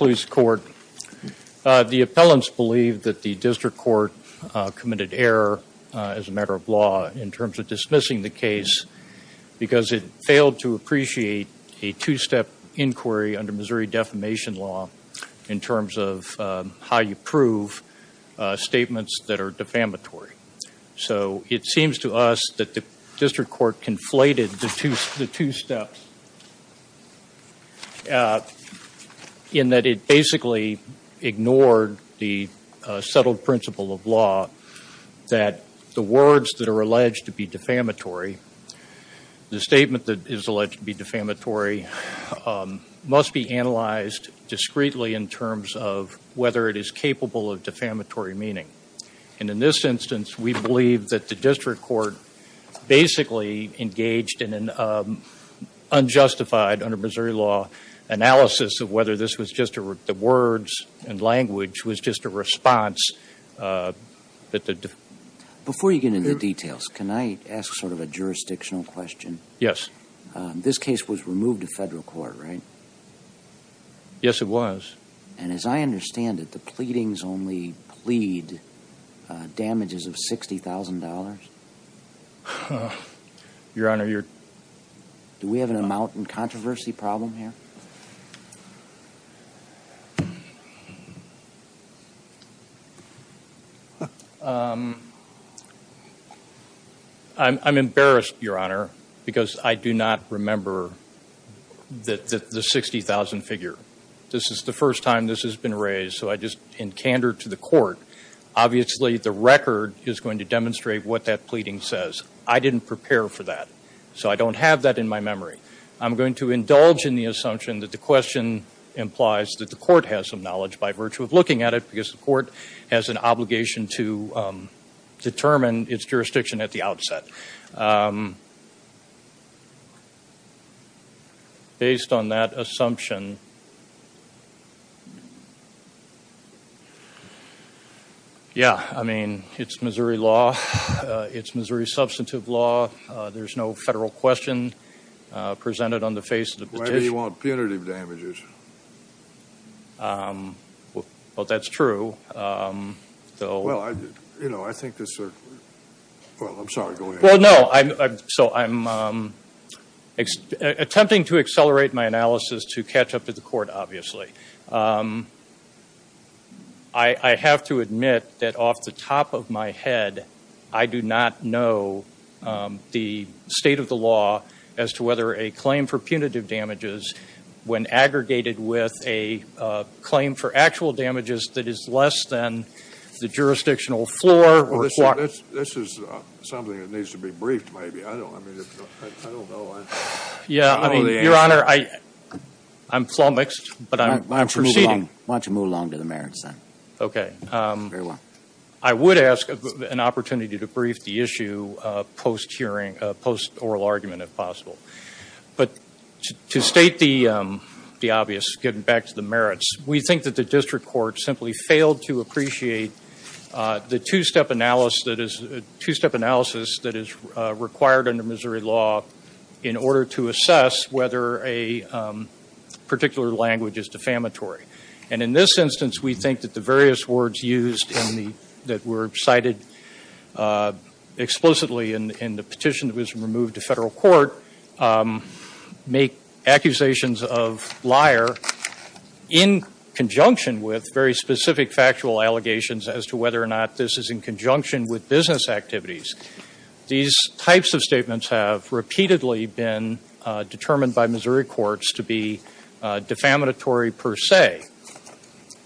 The appellants believe that the District Court committed error as a matter of law in terms of dismissing the case because it failed to appreciate a two-step inquiry under Missouri Defamation Law in terms of how you prove statements that are defamatory. So it seems to us that the District Court conflated the two steps in that it basically ignored the settled principle of law that the words that are alleged to be defamatory, the statement that is alleged to be defamatory, must be analyzed discreetly in terms of whether it is capable of defamatory meaning. And in this instance, we believe that the District Court basically engaged in an unjustified, under Missouri law, analysis of whether the words and language was just a response. Before you get into the details, can I ask sort of a jurisdictional question? Yes. This case was removed to federal court, right? Yes, it was. And as I understand it, the pleadings only plead damages of $60,000? Your Honor, you're… Do we have an amount and controversy problem here? I'm embarrassed, Your Honor, because I do not remember the $60,000 figure. This is the first time this has been raised, so I just in candor to the court. Obviously, the record is going to demonstrate what that pleading says. I didn't prepare for that, so I don't have that in my memory. I'm going to indulge in the assumption that the question implies that the court has some knowledge by virtue of looking at it because the court has an obligation to determine its jurisdiction at the outset. But based on that assumption, yeah, I mean, it's Missouri law. It's Missouri substantive law. There's no federal question presented on the face of the petition. Maybe you want punitive damages. Well, that's true. Well, you know, I think this… Well, I'm sorry. Go ahead. Well, no. So I'm attempting to accelerate my analysis to catch up to the court, obviously. I have to admit that off the top of my head, I do not know the state of the law as to whether a claim for punitive damages, when aggregated with a claim for actual damages that is less than the jurisdictional floor or… This is something that needs to be briefed, maybe. I don't know. Yeah, I mean, Your Honor, I'm flummoxed, but I'm proceeding. Why don't you move along to the merits, then? Okay. Very well. I would ask an opportunity to brief the issue post-oral argument, if possible. But to state the obvious, getting back to the merits, we think that the district court simply failed to appreciate the two-step analysis that is required under Missouri law in order to assess whether a particular language is defamatory. And in this instance, we think that the various words used that were cited explicitly in the petition that was removed to federal court make accusations of liar in conjunction with very specific factual allegations as to whether or not this is in conjunction with business activities. These types of statements have repeatedly been determined by Missouri courts to be defamatory per se.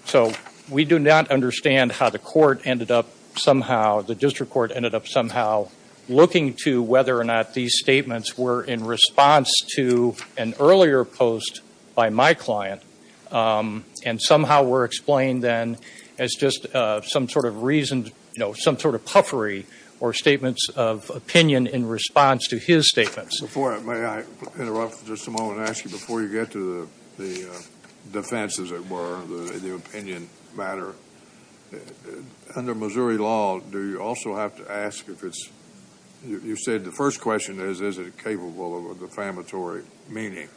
So we do not understand how the court ended up somehow, the district court ended up somehow looking to whether or not these statements were in response to an earlier post by my client and somehow were explained then as just some sort of puffery or statements of opinion in response to his statements. Before I interrupt for just a moment and ask you, before you get to the defense, as it were, the opinion matter, under Missouri law, do you also have to ask if it's, you said the first question is, is it capable of a defamatory meaning?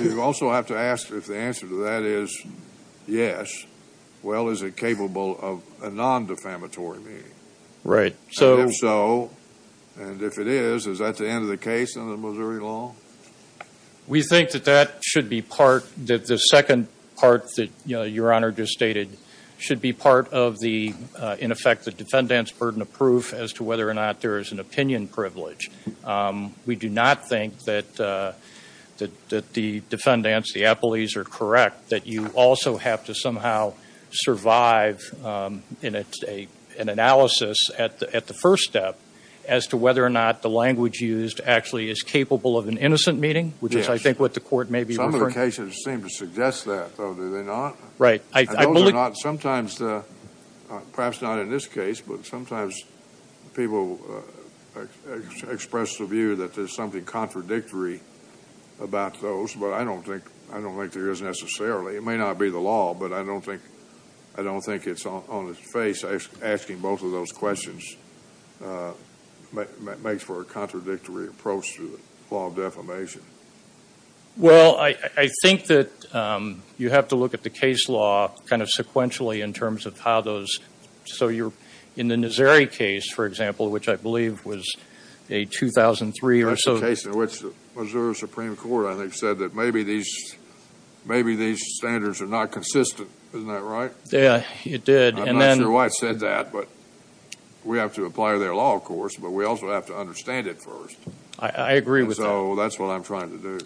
You also have to ask if the answer to that is yes. Well, is it capable of a non-defamatory meaning? Right. And if so, and if it is, is that the end of the case under Missouri law? We think that that should be part, that the second part that your Honor just stated should be part of the, in effect, the defendant's burden of proof as to whether or not there is an opinion privilege. We do not think that the defendants, the appellees are correct, that you also have to somehow survive an analysis at the first step as to whether or not the language used actually is capable of an innocent meaning, which is I think what the court may be referring to. Some locations seem to suggest that, though, do they not? Right. And those are not, sometimes, perhaps not in this case, but sometimes people express the view that there's something contradictory about those, but I don't think there is necessarily. It may not be the law, but I don't think it's on its face asking both of those questions. It makes for a contradictory approach to the law of defamation. Well, I think that you have to look at the case law kind of sequentially in terms of how those, so you're in the Nazari case, for example, which I believe was a 2003 or so. That's the case in which the Missouri Supreme Court, I think, said that maybe these standards are not consistent. Isn't that right? Yeah, it did. I'm not sure why it said that, but we have to apply their law, of course, but we also have to understand it first. I agree with that. So that's what I'm trying to do.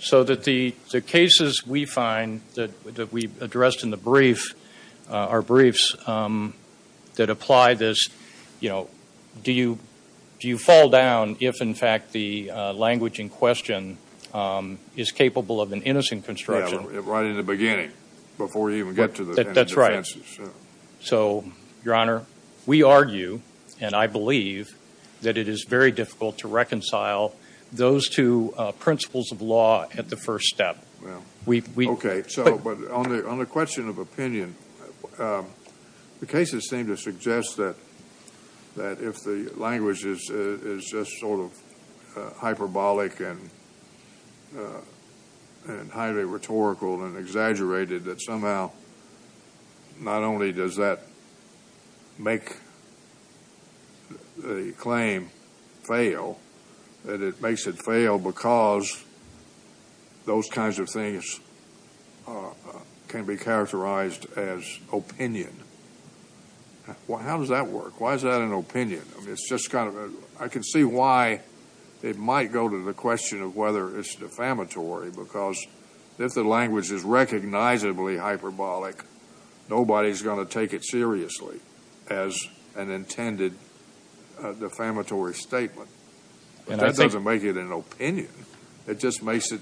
So the cases we find that we addressed in the briefs that apply this, do you fall down if, in fact, the language in question is capable of an innocent construction? Yeah, right in the beginning, before you even get to the defenses. So, Your Honor, we argue, and I believe, that it is very difficult to reconcile those two principles of law at the first step. Okay, but on the question of opinion, the cases seem to suggest that if the language is just sort of hyperbolic and highly rhetorical and exaggerated, that somehow not only does that make the claim fail, that it makes it fail because those kinds of things can be characterized as opinion. How does that work? Why is that an opinion? I can see why it might go to the question of whether it's defamatory because if the language is recognizably hyperbolic, nobody's going to take it seriously as an intended defamatory statement. But that doesn't make it an opinion. It just makes it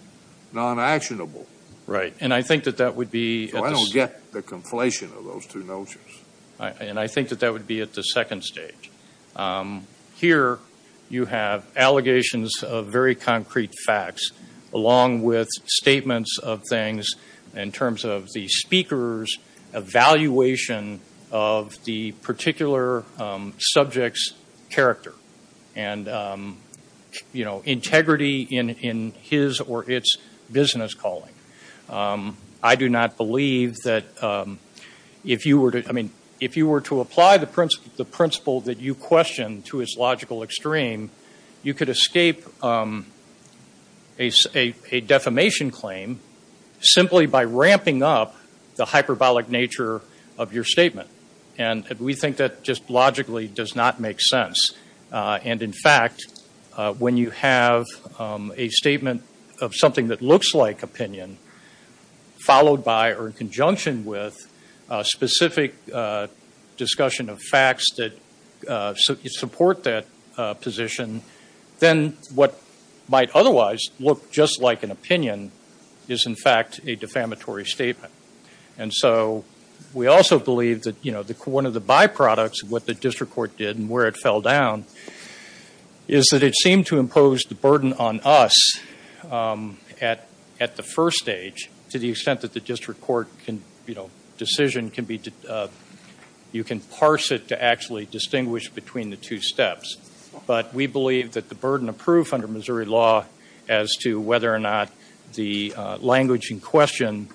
non-actionable. Right, and I think that that would be at the second stage. So I don't get the conflation of those two notions. And I think that that would be at the second stage. Here you have allegations of very concrete facts along with statements of things in terms of the speaker's evaluation of the particular subject's character and integrity in his or its business calling. I do not believe that if you were to apply the principle that you question to its logical extreme, you could escape a defamation claim simply by ramping up the hyperbolic nature of your statement. And we think that just logically does not make sense. And, in fact, when you have a statement of something that looks like opinion followed by or in conjunction with a specific discussion of facts that support that position, then what might otherwise look just like an opinion is, in fact, a defamatory statement. And so we also believe that one of the byproducts of what the district court did and where it fell down is that it seemed to impose the burden on us at the first stage to the extent that the district court decision can be, you can parse it to actually distinguish between the two steps. But we believe that the burden of proof under Missouri law as to whether or not the language in question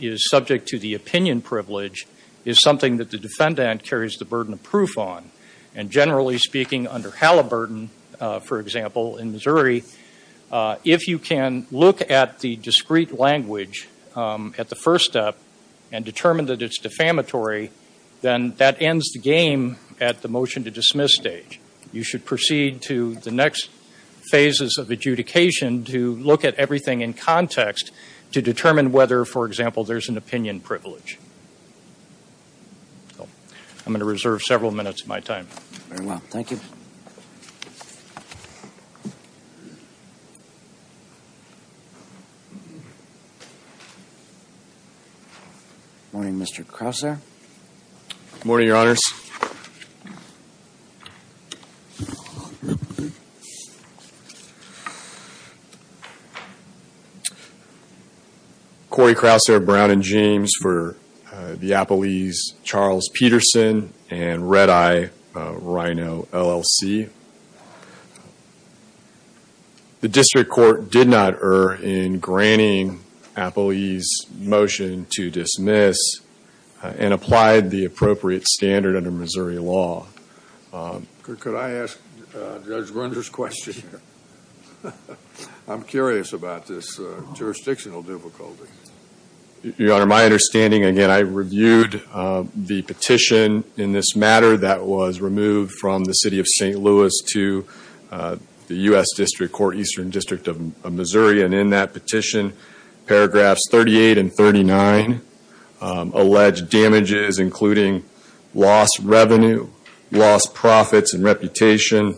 is subject to the opinion privilege is something that the defendant carries the burden of proof on. And, generally speaking, under Halliburton, for example, in Missouri, if you can look at the discrete language at the first step and determine that it's defamatory, then that ends the game at the motion to dismiss stage. You should proceed to the next phases of adjudication to look at everything in context to determine whether, for example, there's an opinion privilege. I'm going to reserve several minutes of my time. Very well. Thank you. Good morning, Mr. Crouser. Good morning, Your Honors. Cory Crouser, Brown and James for the Appelees Charles Peterson and Red Eye Rhino, LLC. The district court did not err in granting Appelees' motion to dismiss and applied the appropriate standard under Missouri law. Could I ask Judge Grunder's question here? I'm curious about this jurisdictional difficulty. Your Honor, my understanding, again, I reviewed the petition in this matter that was removed from the city of St. Louis to the U.S. District Court, Eastern District of Missouri. And in that petition, paragraphs 38 and 39 allege damages including lost revenue, lost profits and reputation,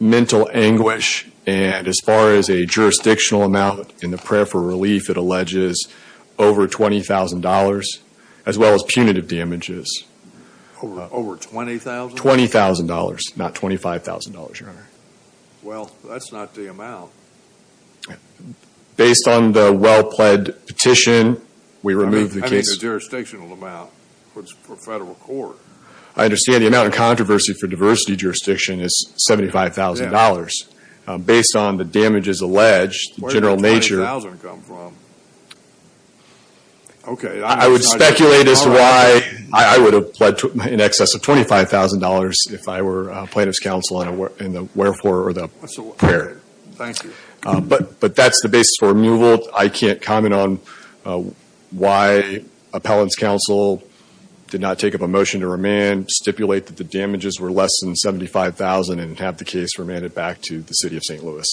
mental anguish, and as far as a jurisdictional amount in the prayer for relief, it alleges over $20,000 as well as punitive damages. Over $20,000? $20,000, not $25,000, Your Honor. Well, that's not the amount. Based on the well-pled petition, we removed the case. I mean, the jurisdictional amount for federal court. I understand the amount of controversy for diversity jurisdiction is $75,000. Based on the damages alleged, the general nature. Where did the $20,000 come from? Okay. I would speculate as to why I would have pled in excess of $25,000 if I were plaintiff's counsel in the wherefore or the prayer. Thank you. But that's the basis for removal. I can't comment on why appellant's counsel did not take up a motion to remand, stipulate that the damages were less than $75,000, and have the case remanded back to the City of St. Louis.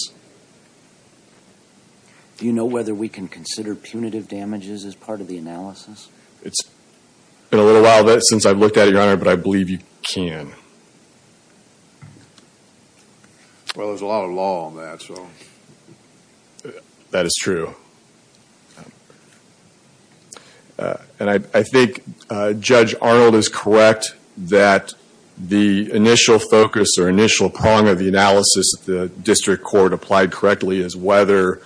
Do you know whether we can consider punitive damages as part of the analysis? It's been a little while since I've looked at it, Your Honor, but I believe you can. Well, there's a lot of law on that, so. That is true. And I think Judge Arnold is correct that the initial focus or initial prong of the analysis that the district court applied correctly is whether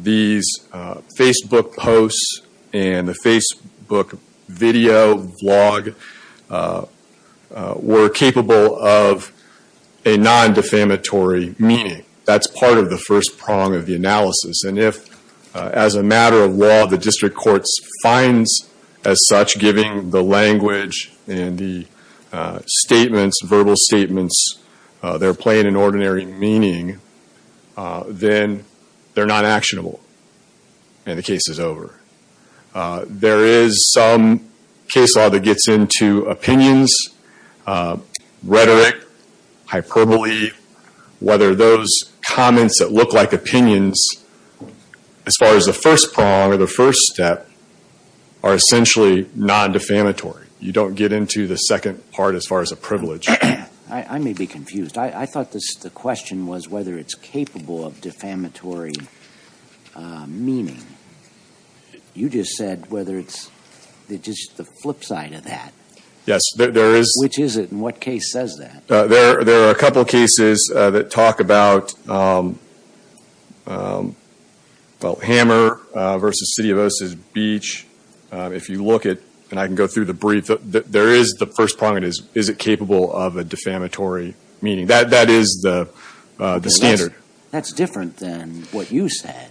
these Facebook posts and the Facebook video, vlog, were capable of a non-defamatory meaning. That's part of the first prong of the analysis. And if, as a matter of law, the district court finds, as such, giving the language and the statements, verbal statements, their plain and ordinary meaning, then they're not actionable and the case is over. There is some case law that gets into opinions, rhetoric, hyperbole, whether those comments that look like opinions, as far as the first prong or the first step, are essentially non-defamatory. You don't get into the second part as far as a privilege. I may be confused. I thought the question was whether it's capable of defamatory meaning. You just said whether it's just the flip side of that. Yes, there is. Which is it, and what case says that? There are a couple cases that talk about Hammer v. City of Osa's Beach. If you look at, and I can go through the brief, there is the first prong, and it is, is it capable of a defamatory meaning? That is the standard. That's different than what you said,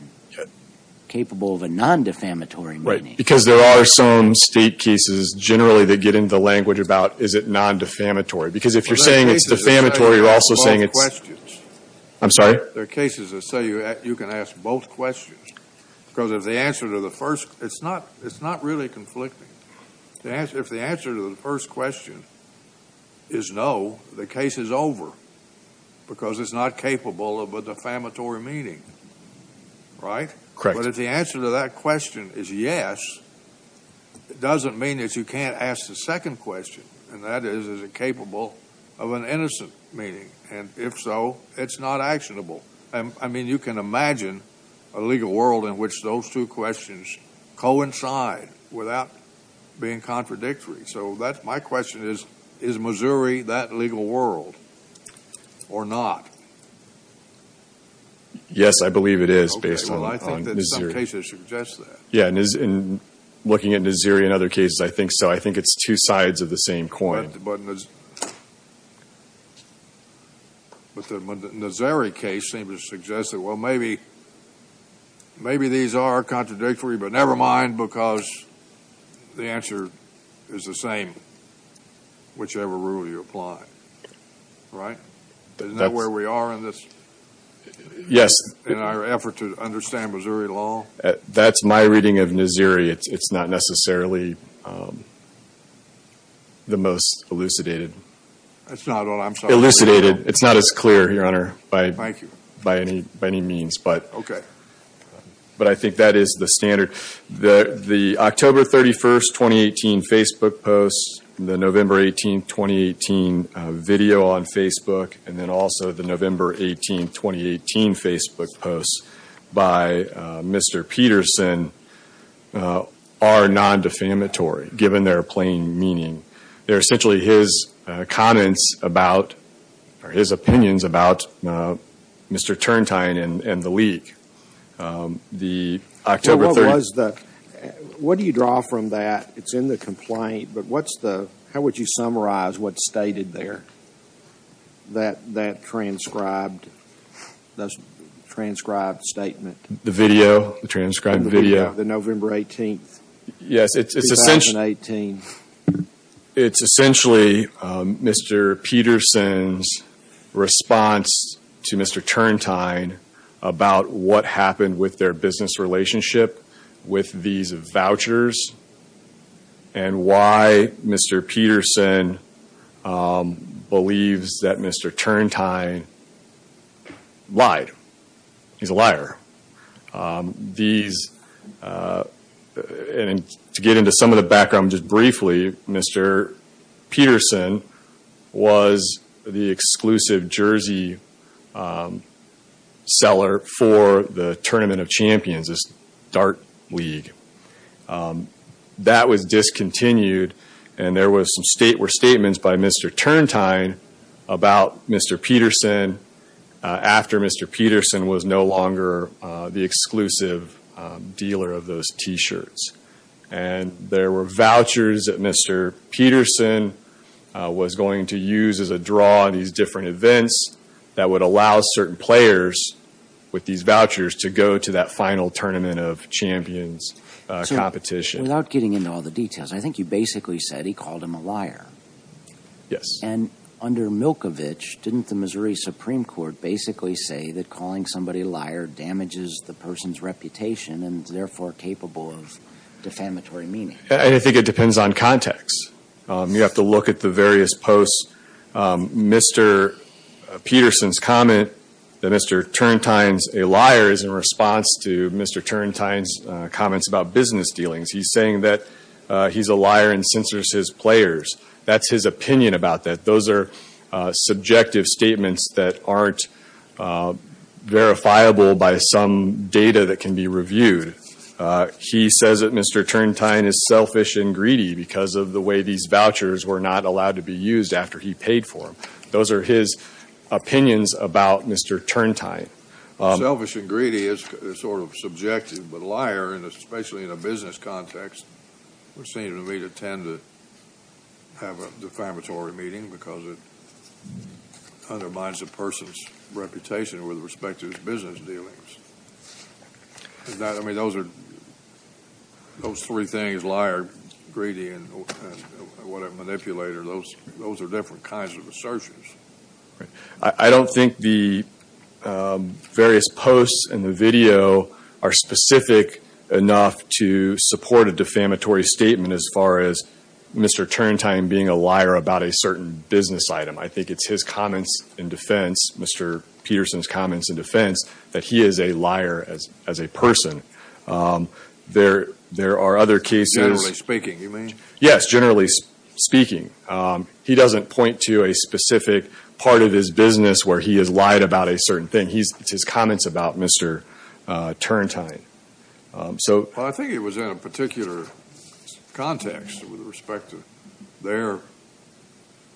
capable of a non-defamatory meaning. Right, because there are some state cases, generally, that get into the language about, is it non-defamatory? Because if you're saying it's defamatory, you're also saying it's – There are cases that say you can ask both questions. I'm sorry? There are cases that say you can ask both questions, because if the answer to the first – it's not really conflicting. If the answer to the first question is no, the case is over, because it's not capable of a defamatory meaning. Right? Correct. But if the answer to that question is yes, it doesn't mean that you can't ask the second question, and that is, is it capable of an innocent meaning? And if so, it's not actionable. I mean, you can imagine a legal world in which those two questions coincide without being contradictory. So my question is, is Missouri that legal world or not? Yes, I believe it is, based on Naziri. Okay, well, I think that some cases suggest that. Yeah, and looking at Naziri and other cases, I think so. But the Naziri case seems to suggest that, well, maybe these are contradictory, but never mind, because the answer is the same, whichever rule you apply. Right? Isn't that where we are in this? Yes. In our effort to understand Missouri law? That's my reading of Naziri. It's not necessarily the most elucidated. That's not what I'm talking about. Elucidated. It's not as clear, Your Honor, by any means. Okay. But I think that is the standard. The October 31, 2018 Facebook post, the November 18, 2018 video on Facebook, and then also the November 18, 2018 Facebook post by Mr. Peterson are nondefamatory, given their plain meaning. They're essentially his comments about, or his opinions about Mr. Turntine and the leak. The October 31st. What do you draw from that? It's in the complaint, but what's the, how would you summarize what's stated there? That transcribed statement. The video. The transcribed video. The November 18, 2018. Yes. It's essentially Mr. Peterson's response to Mr. Turntine about what happened with their business relationship with these vouchers and why Mr. Peterson believes that Mr. Turntine lied. He's a liar. These, and to get into some of the background just briefly, Mr. Peterson was the exclusive jersey seller for the Tournament of Champions. This dart league. That was discontinued, and there were statements by Mr. Turntine about Mr. Peterson after Mr. Peterson was no longer the exclusive dealer of those t-shirts. And there were vouchers that Mr. Peterson was going to use as a draw on these different events that would allow certain players with these vouchers to go to that final Tournament of Champions competition. Without getting into all the details, I think you basically said he called him a liar. Yes. And under Milkovich, didn't the Missouri Supreme Court basically say that calling somebody a liar damages the person's reputation and is therefore capable of defamatory meaning? I think it depends on context. You have to look at the various posts. Mr. Peterson's comment that Mr. Turntine's a liar is in response to Mr. Turntine's comments about business dealings. He's saying that he's a liar and censors his players. That's his opinion about that. Those are subjective statements that aren't verifiable by some data that can be reviewed. He says that Mr. Turntine is selfish and greedy because of the way these vouchers were not allowed to be used after he paid for them. Those are his opinions about Mr. Turntine. Selfish and greedy is sort of subjective, but liar, especially in a business context, would seem to me to tend to have a defamatory meaning because it undermines a person's reputation with respect to his business dealings. Those three things, liar, greedy, and manipulator, those are different kinds of assertions. I don't think the various posts in the video are specific enough to support a defamatory statement as far as Mr. Turntine being a liar about a certain business item. I think it's his comments in defense, Mr. Peterson's comments in defense, that he is a liar as a person. There are other cases. Generally speaking, you mean? Yes, generally speaking. He doesn't point to a specific part of his business where he has lied about a certain thing. It's his comments about Mr. Turntine. I think it was in a particular context with respect to their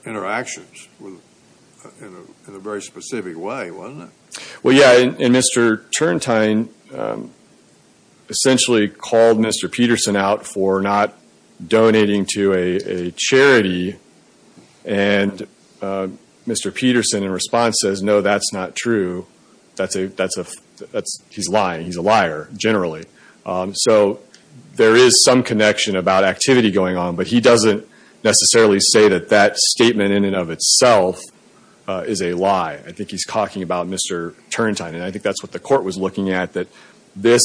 interactions in a very specific way, wasn't it? Well, yeah, and Mr. Turntine essentially called Mr. Peterson out for not donating to a charity, and Mr. Peterson, in response, says, no, that's not true. He's lying. He's a liar, generally. So there is some connection about activity going on, but he doesn't necessarily say that that statement in and of itself is a lie. I think he's talking about Mr. Turntine, and I think that's what the court was looking at, that this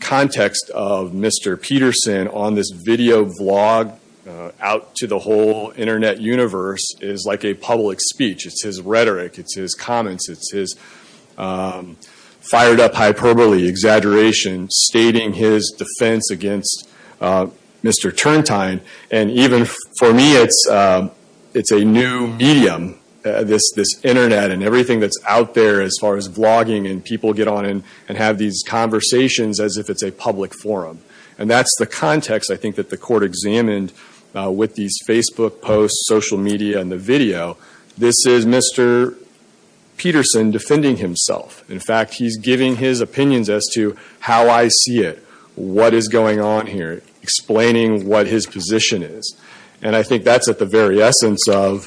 context of Mr. Peterson on this video vlog out to the whole Internet universe is like a public speech. It's his rhetoric. It's his comments. It's his fired-up hyperbole exaggeration stating his defense against Mr. Turntine. And even for me, it's a new medium, this Internet and everything that's out there as far as vlogging and people get on and have these conversations as if it's a public forum. And that's the context, I think, that the court examined with these Facebook posts, social media, and the video. This is Mr. Peterson defending himself. In fact, he's giving his opinions as to how I see it, what is going on here, explaining what his position is. And I think that's at the very essence of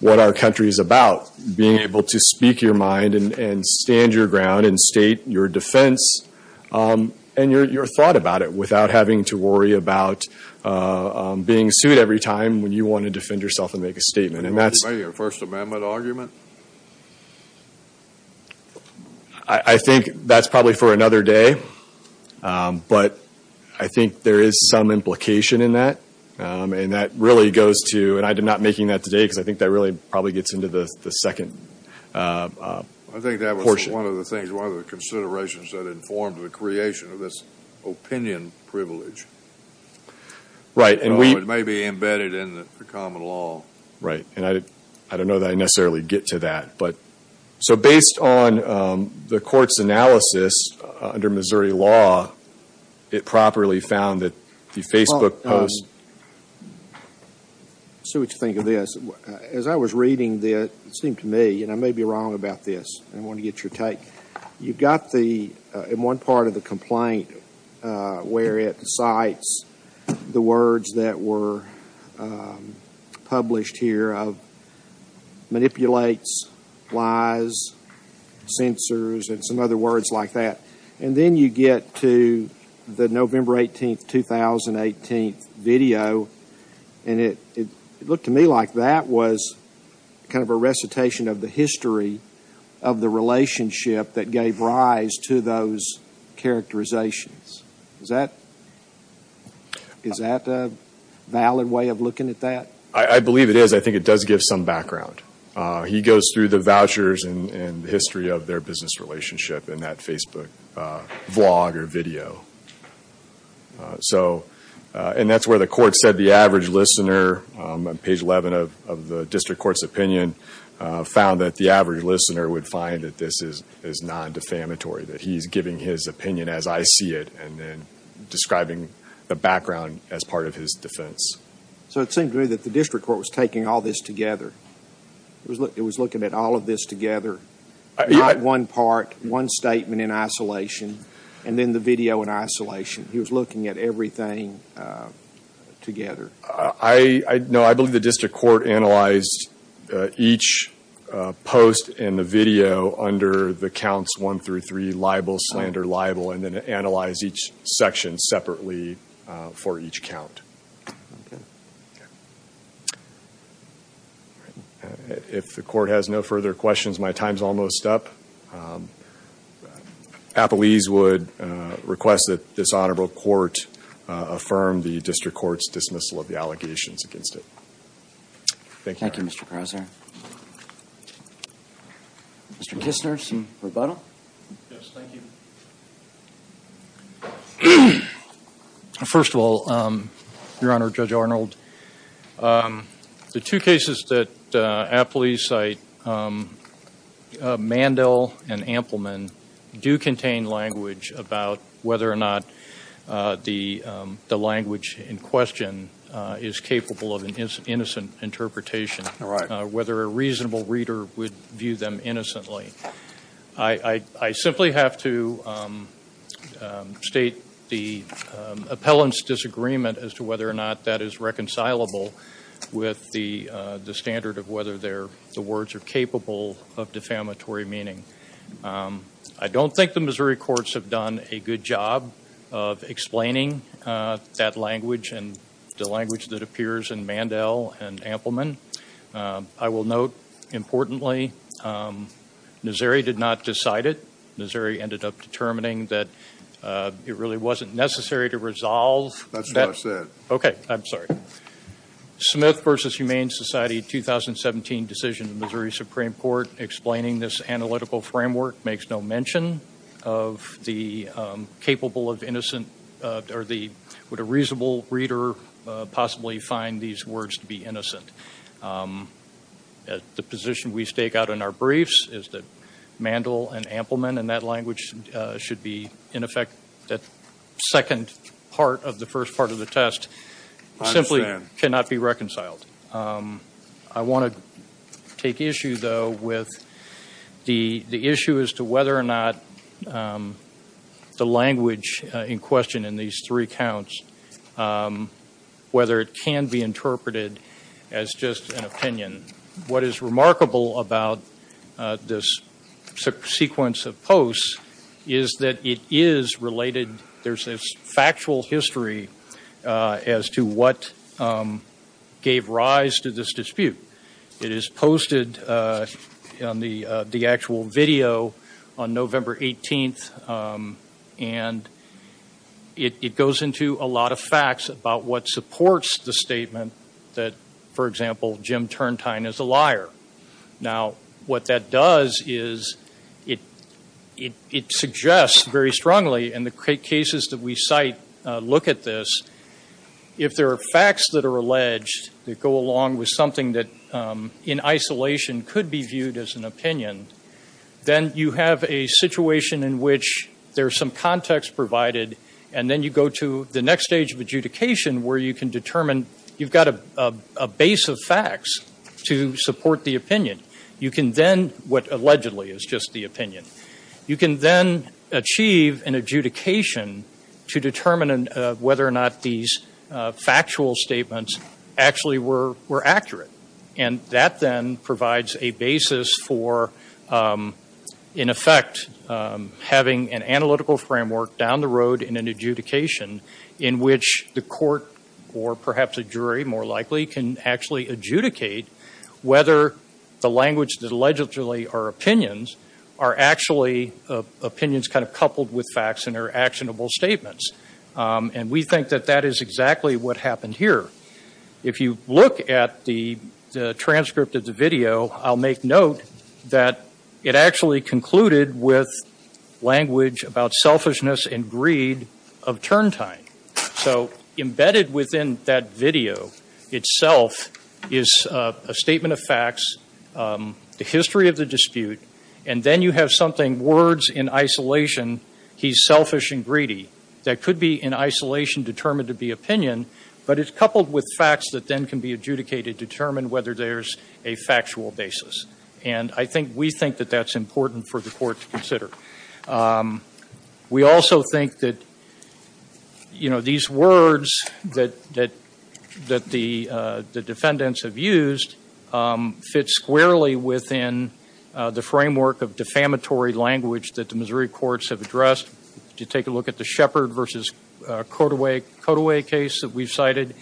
what our country is about, being able to speak your mind and stand your ground and state your defense and your thought about it without having to worry about being sued every time when you want to defend yourself and make a statement. Are you making a First Amendment argument? I think that's probably for another day, but I think there is some implication in that. And that really goes to, and I'm not making that today because I think that really probably gets into the second portion. I think that was one of the things, one of the considerations that informed the creation of this opinion privilege. Right. It may be embedded in the common law. Right, and I don't know that I necessarily get to that. So based on the court's analysis under Missouri law, it properly found that the Facebook post Well, let's see what you think of this. As I was reading this, it seemed to me, and I may be wrong about this, and I want to get your take. You've got the, in one part of the complaint, where it cites the words that were published here of manipulates, lies, censors, and some other words like that. And then you get to the November 18, 2018 video, and it looked to me like that was kind of a recitation of the history of the relationship that gave rise to those characterizations. Is that a valid way of looking at that? I believe it is. I think it does give some background. He goes through the vouchers and the history of their business relationship in that Facebook vlog or video. And that's where the court said the average listener, on page 11 of the district court's opinion, found that the average listener would find that this is non-defamatory, that he's giving his opinion as I see it and then describing the background as part of his defense. So it seemed to me that the district court was taking all this together. It was looking at all of this together, not one part, one statement in isolation, and then the video in isolation. He was looking at everything together. No, I believe the district court analyzed each post in the video under the counts one through three, libel, slander, libel, and then analyzed each section separately for each count. If the court has no further questions, my time's almost up. Appellees would request that this honorable court affirm the district court's dismissal of the allegations against it. Thank you. Thank you, Mr. Crozier. Mr. Kistner, some rebuttal? Yes, thank you. First of all, Your Honor, Judge Arnold, the two cases that appellees cite, Mandel and Ampleman, do contain language about whether or not the language in question is capable of an innocent interpretation, whether a reasonable reader would view them innocently. I simply have to state the appellant's disagreement as to whether or not that is reconcilable with the standard of whether the words are capable of defamatory meaning. I don't think the Missouri courts have done a good job of explaining that language and the language that appears in Mandel and Ampleman. I will note, importantly, Missouri did not decide it. Missouri ended up determining that it really wasn't necessary to resolve. That's what I said. Okay, I'm sorry. Smith v. Humane Society 2017 decision in Missouri Supreme Court explaining this analytical framework makes no mention of the capable of innocent or would a reasonable reader possibly find these words to be innocent. The position we stake out in our briefs is that Mandel and Ampleman, and that language should be, in effect, that second part of the first part of the test, simply cannot be reconciled. I want to take issue, though, with the issue as to whether or not the language in question in these three counts, whether it can be interpreted as just an opinion. What is remarkable about this sequence of posts is that it is related. There's a factual history as to what gave rise to this dispute. It is posted on the actual video on November 18th, and it goes into a lot of facts about what supports the statement that, for example, Now, what that does is it suggests very strongly, and the cases that we cite look at this, if there are facts that are alleged that go along with something that in isolation could be viewed as an opinion, then you have a situation in which there's some context provided, and then you go to the next stage of adjudication where you can determine and you've got a base of facts to support the opinion. You can then, what allegedly is just the opinion, you can then achieve an adjudication to determine whether or not these factual statements actually were accurate, and that then provides a basis for, in effect, having an analytical framework down the road in an adjudication in which the court or perhaps a jury, more likely, can actually adjudicate whether the language that allegedly are opinions are actually opinions kind of coupled with facts and are actionable statements. And we think that that is exactly what happened here. If you look at the transcript of the video, I'll make note that it actually concluded with language about selfishness and greed of turn time. So embedded within that video itself is a statement of facts, the history of the dispute, and then you have something, words in isolation, he's selfish and greedy. That could be in isolation determined to be opinion, but it's coupled with facts that then can be adjudicated to determine whether there's a factual basis. And I think we think that that's important for the court to consider. We also think that, you know, these words that the defendants have used fit squarely within the framework of defamatory language that the Missouri courts have addressed. If you take a look at the Shepard v. Cotaway case that we've cited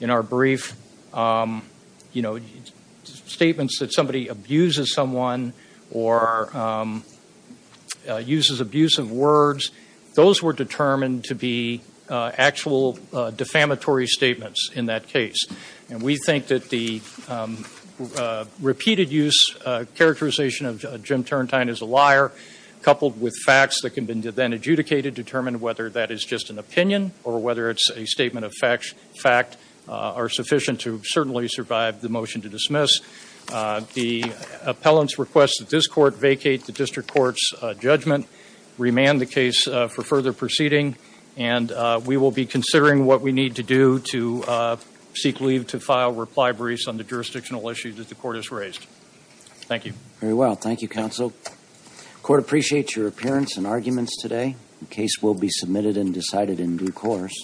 in our brief, you know, statements that somebody abuses someone or uses abusive words, those were determined to be actual defamatory statements in that case. And we think that the repeated use characterization of Jim Turrentine as a liar, coupled with facts that can then be adjudicated to determine whether that is just an opinion or whether it's a statement of fact are sufficient to certainly survive the motion to dismiss. The appellant's request that this court vacate the district court's judgment, remand the case for further proceeding, and we will be considering what we need to do to seek leave to file reply briefs on the jurisdictional issues that the court has raised. Thank you. Very well. Thank you, counsel. The court appreciates your appearance and arguments today. The case will be submitted and decided in due course.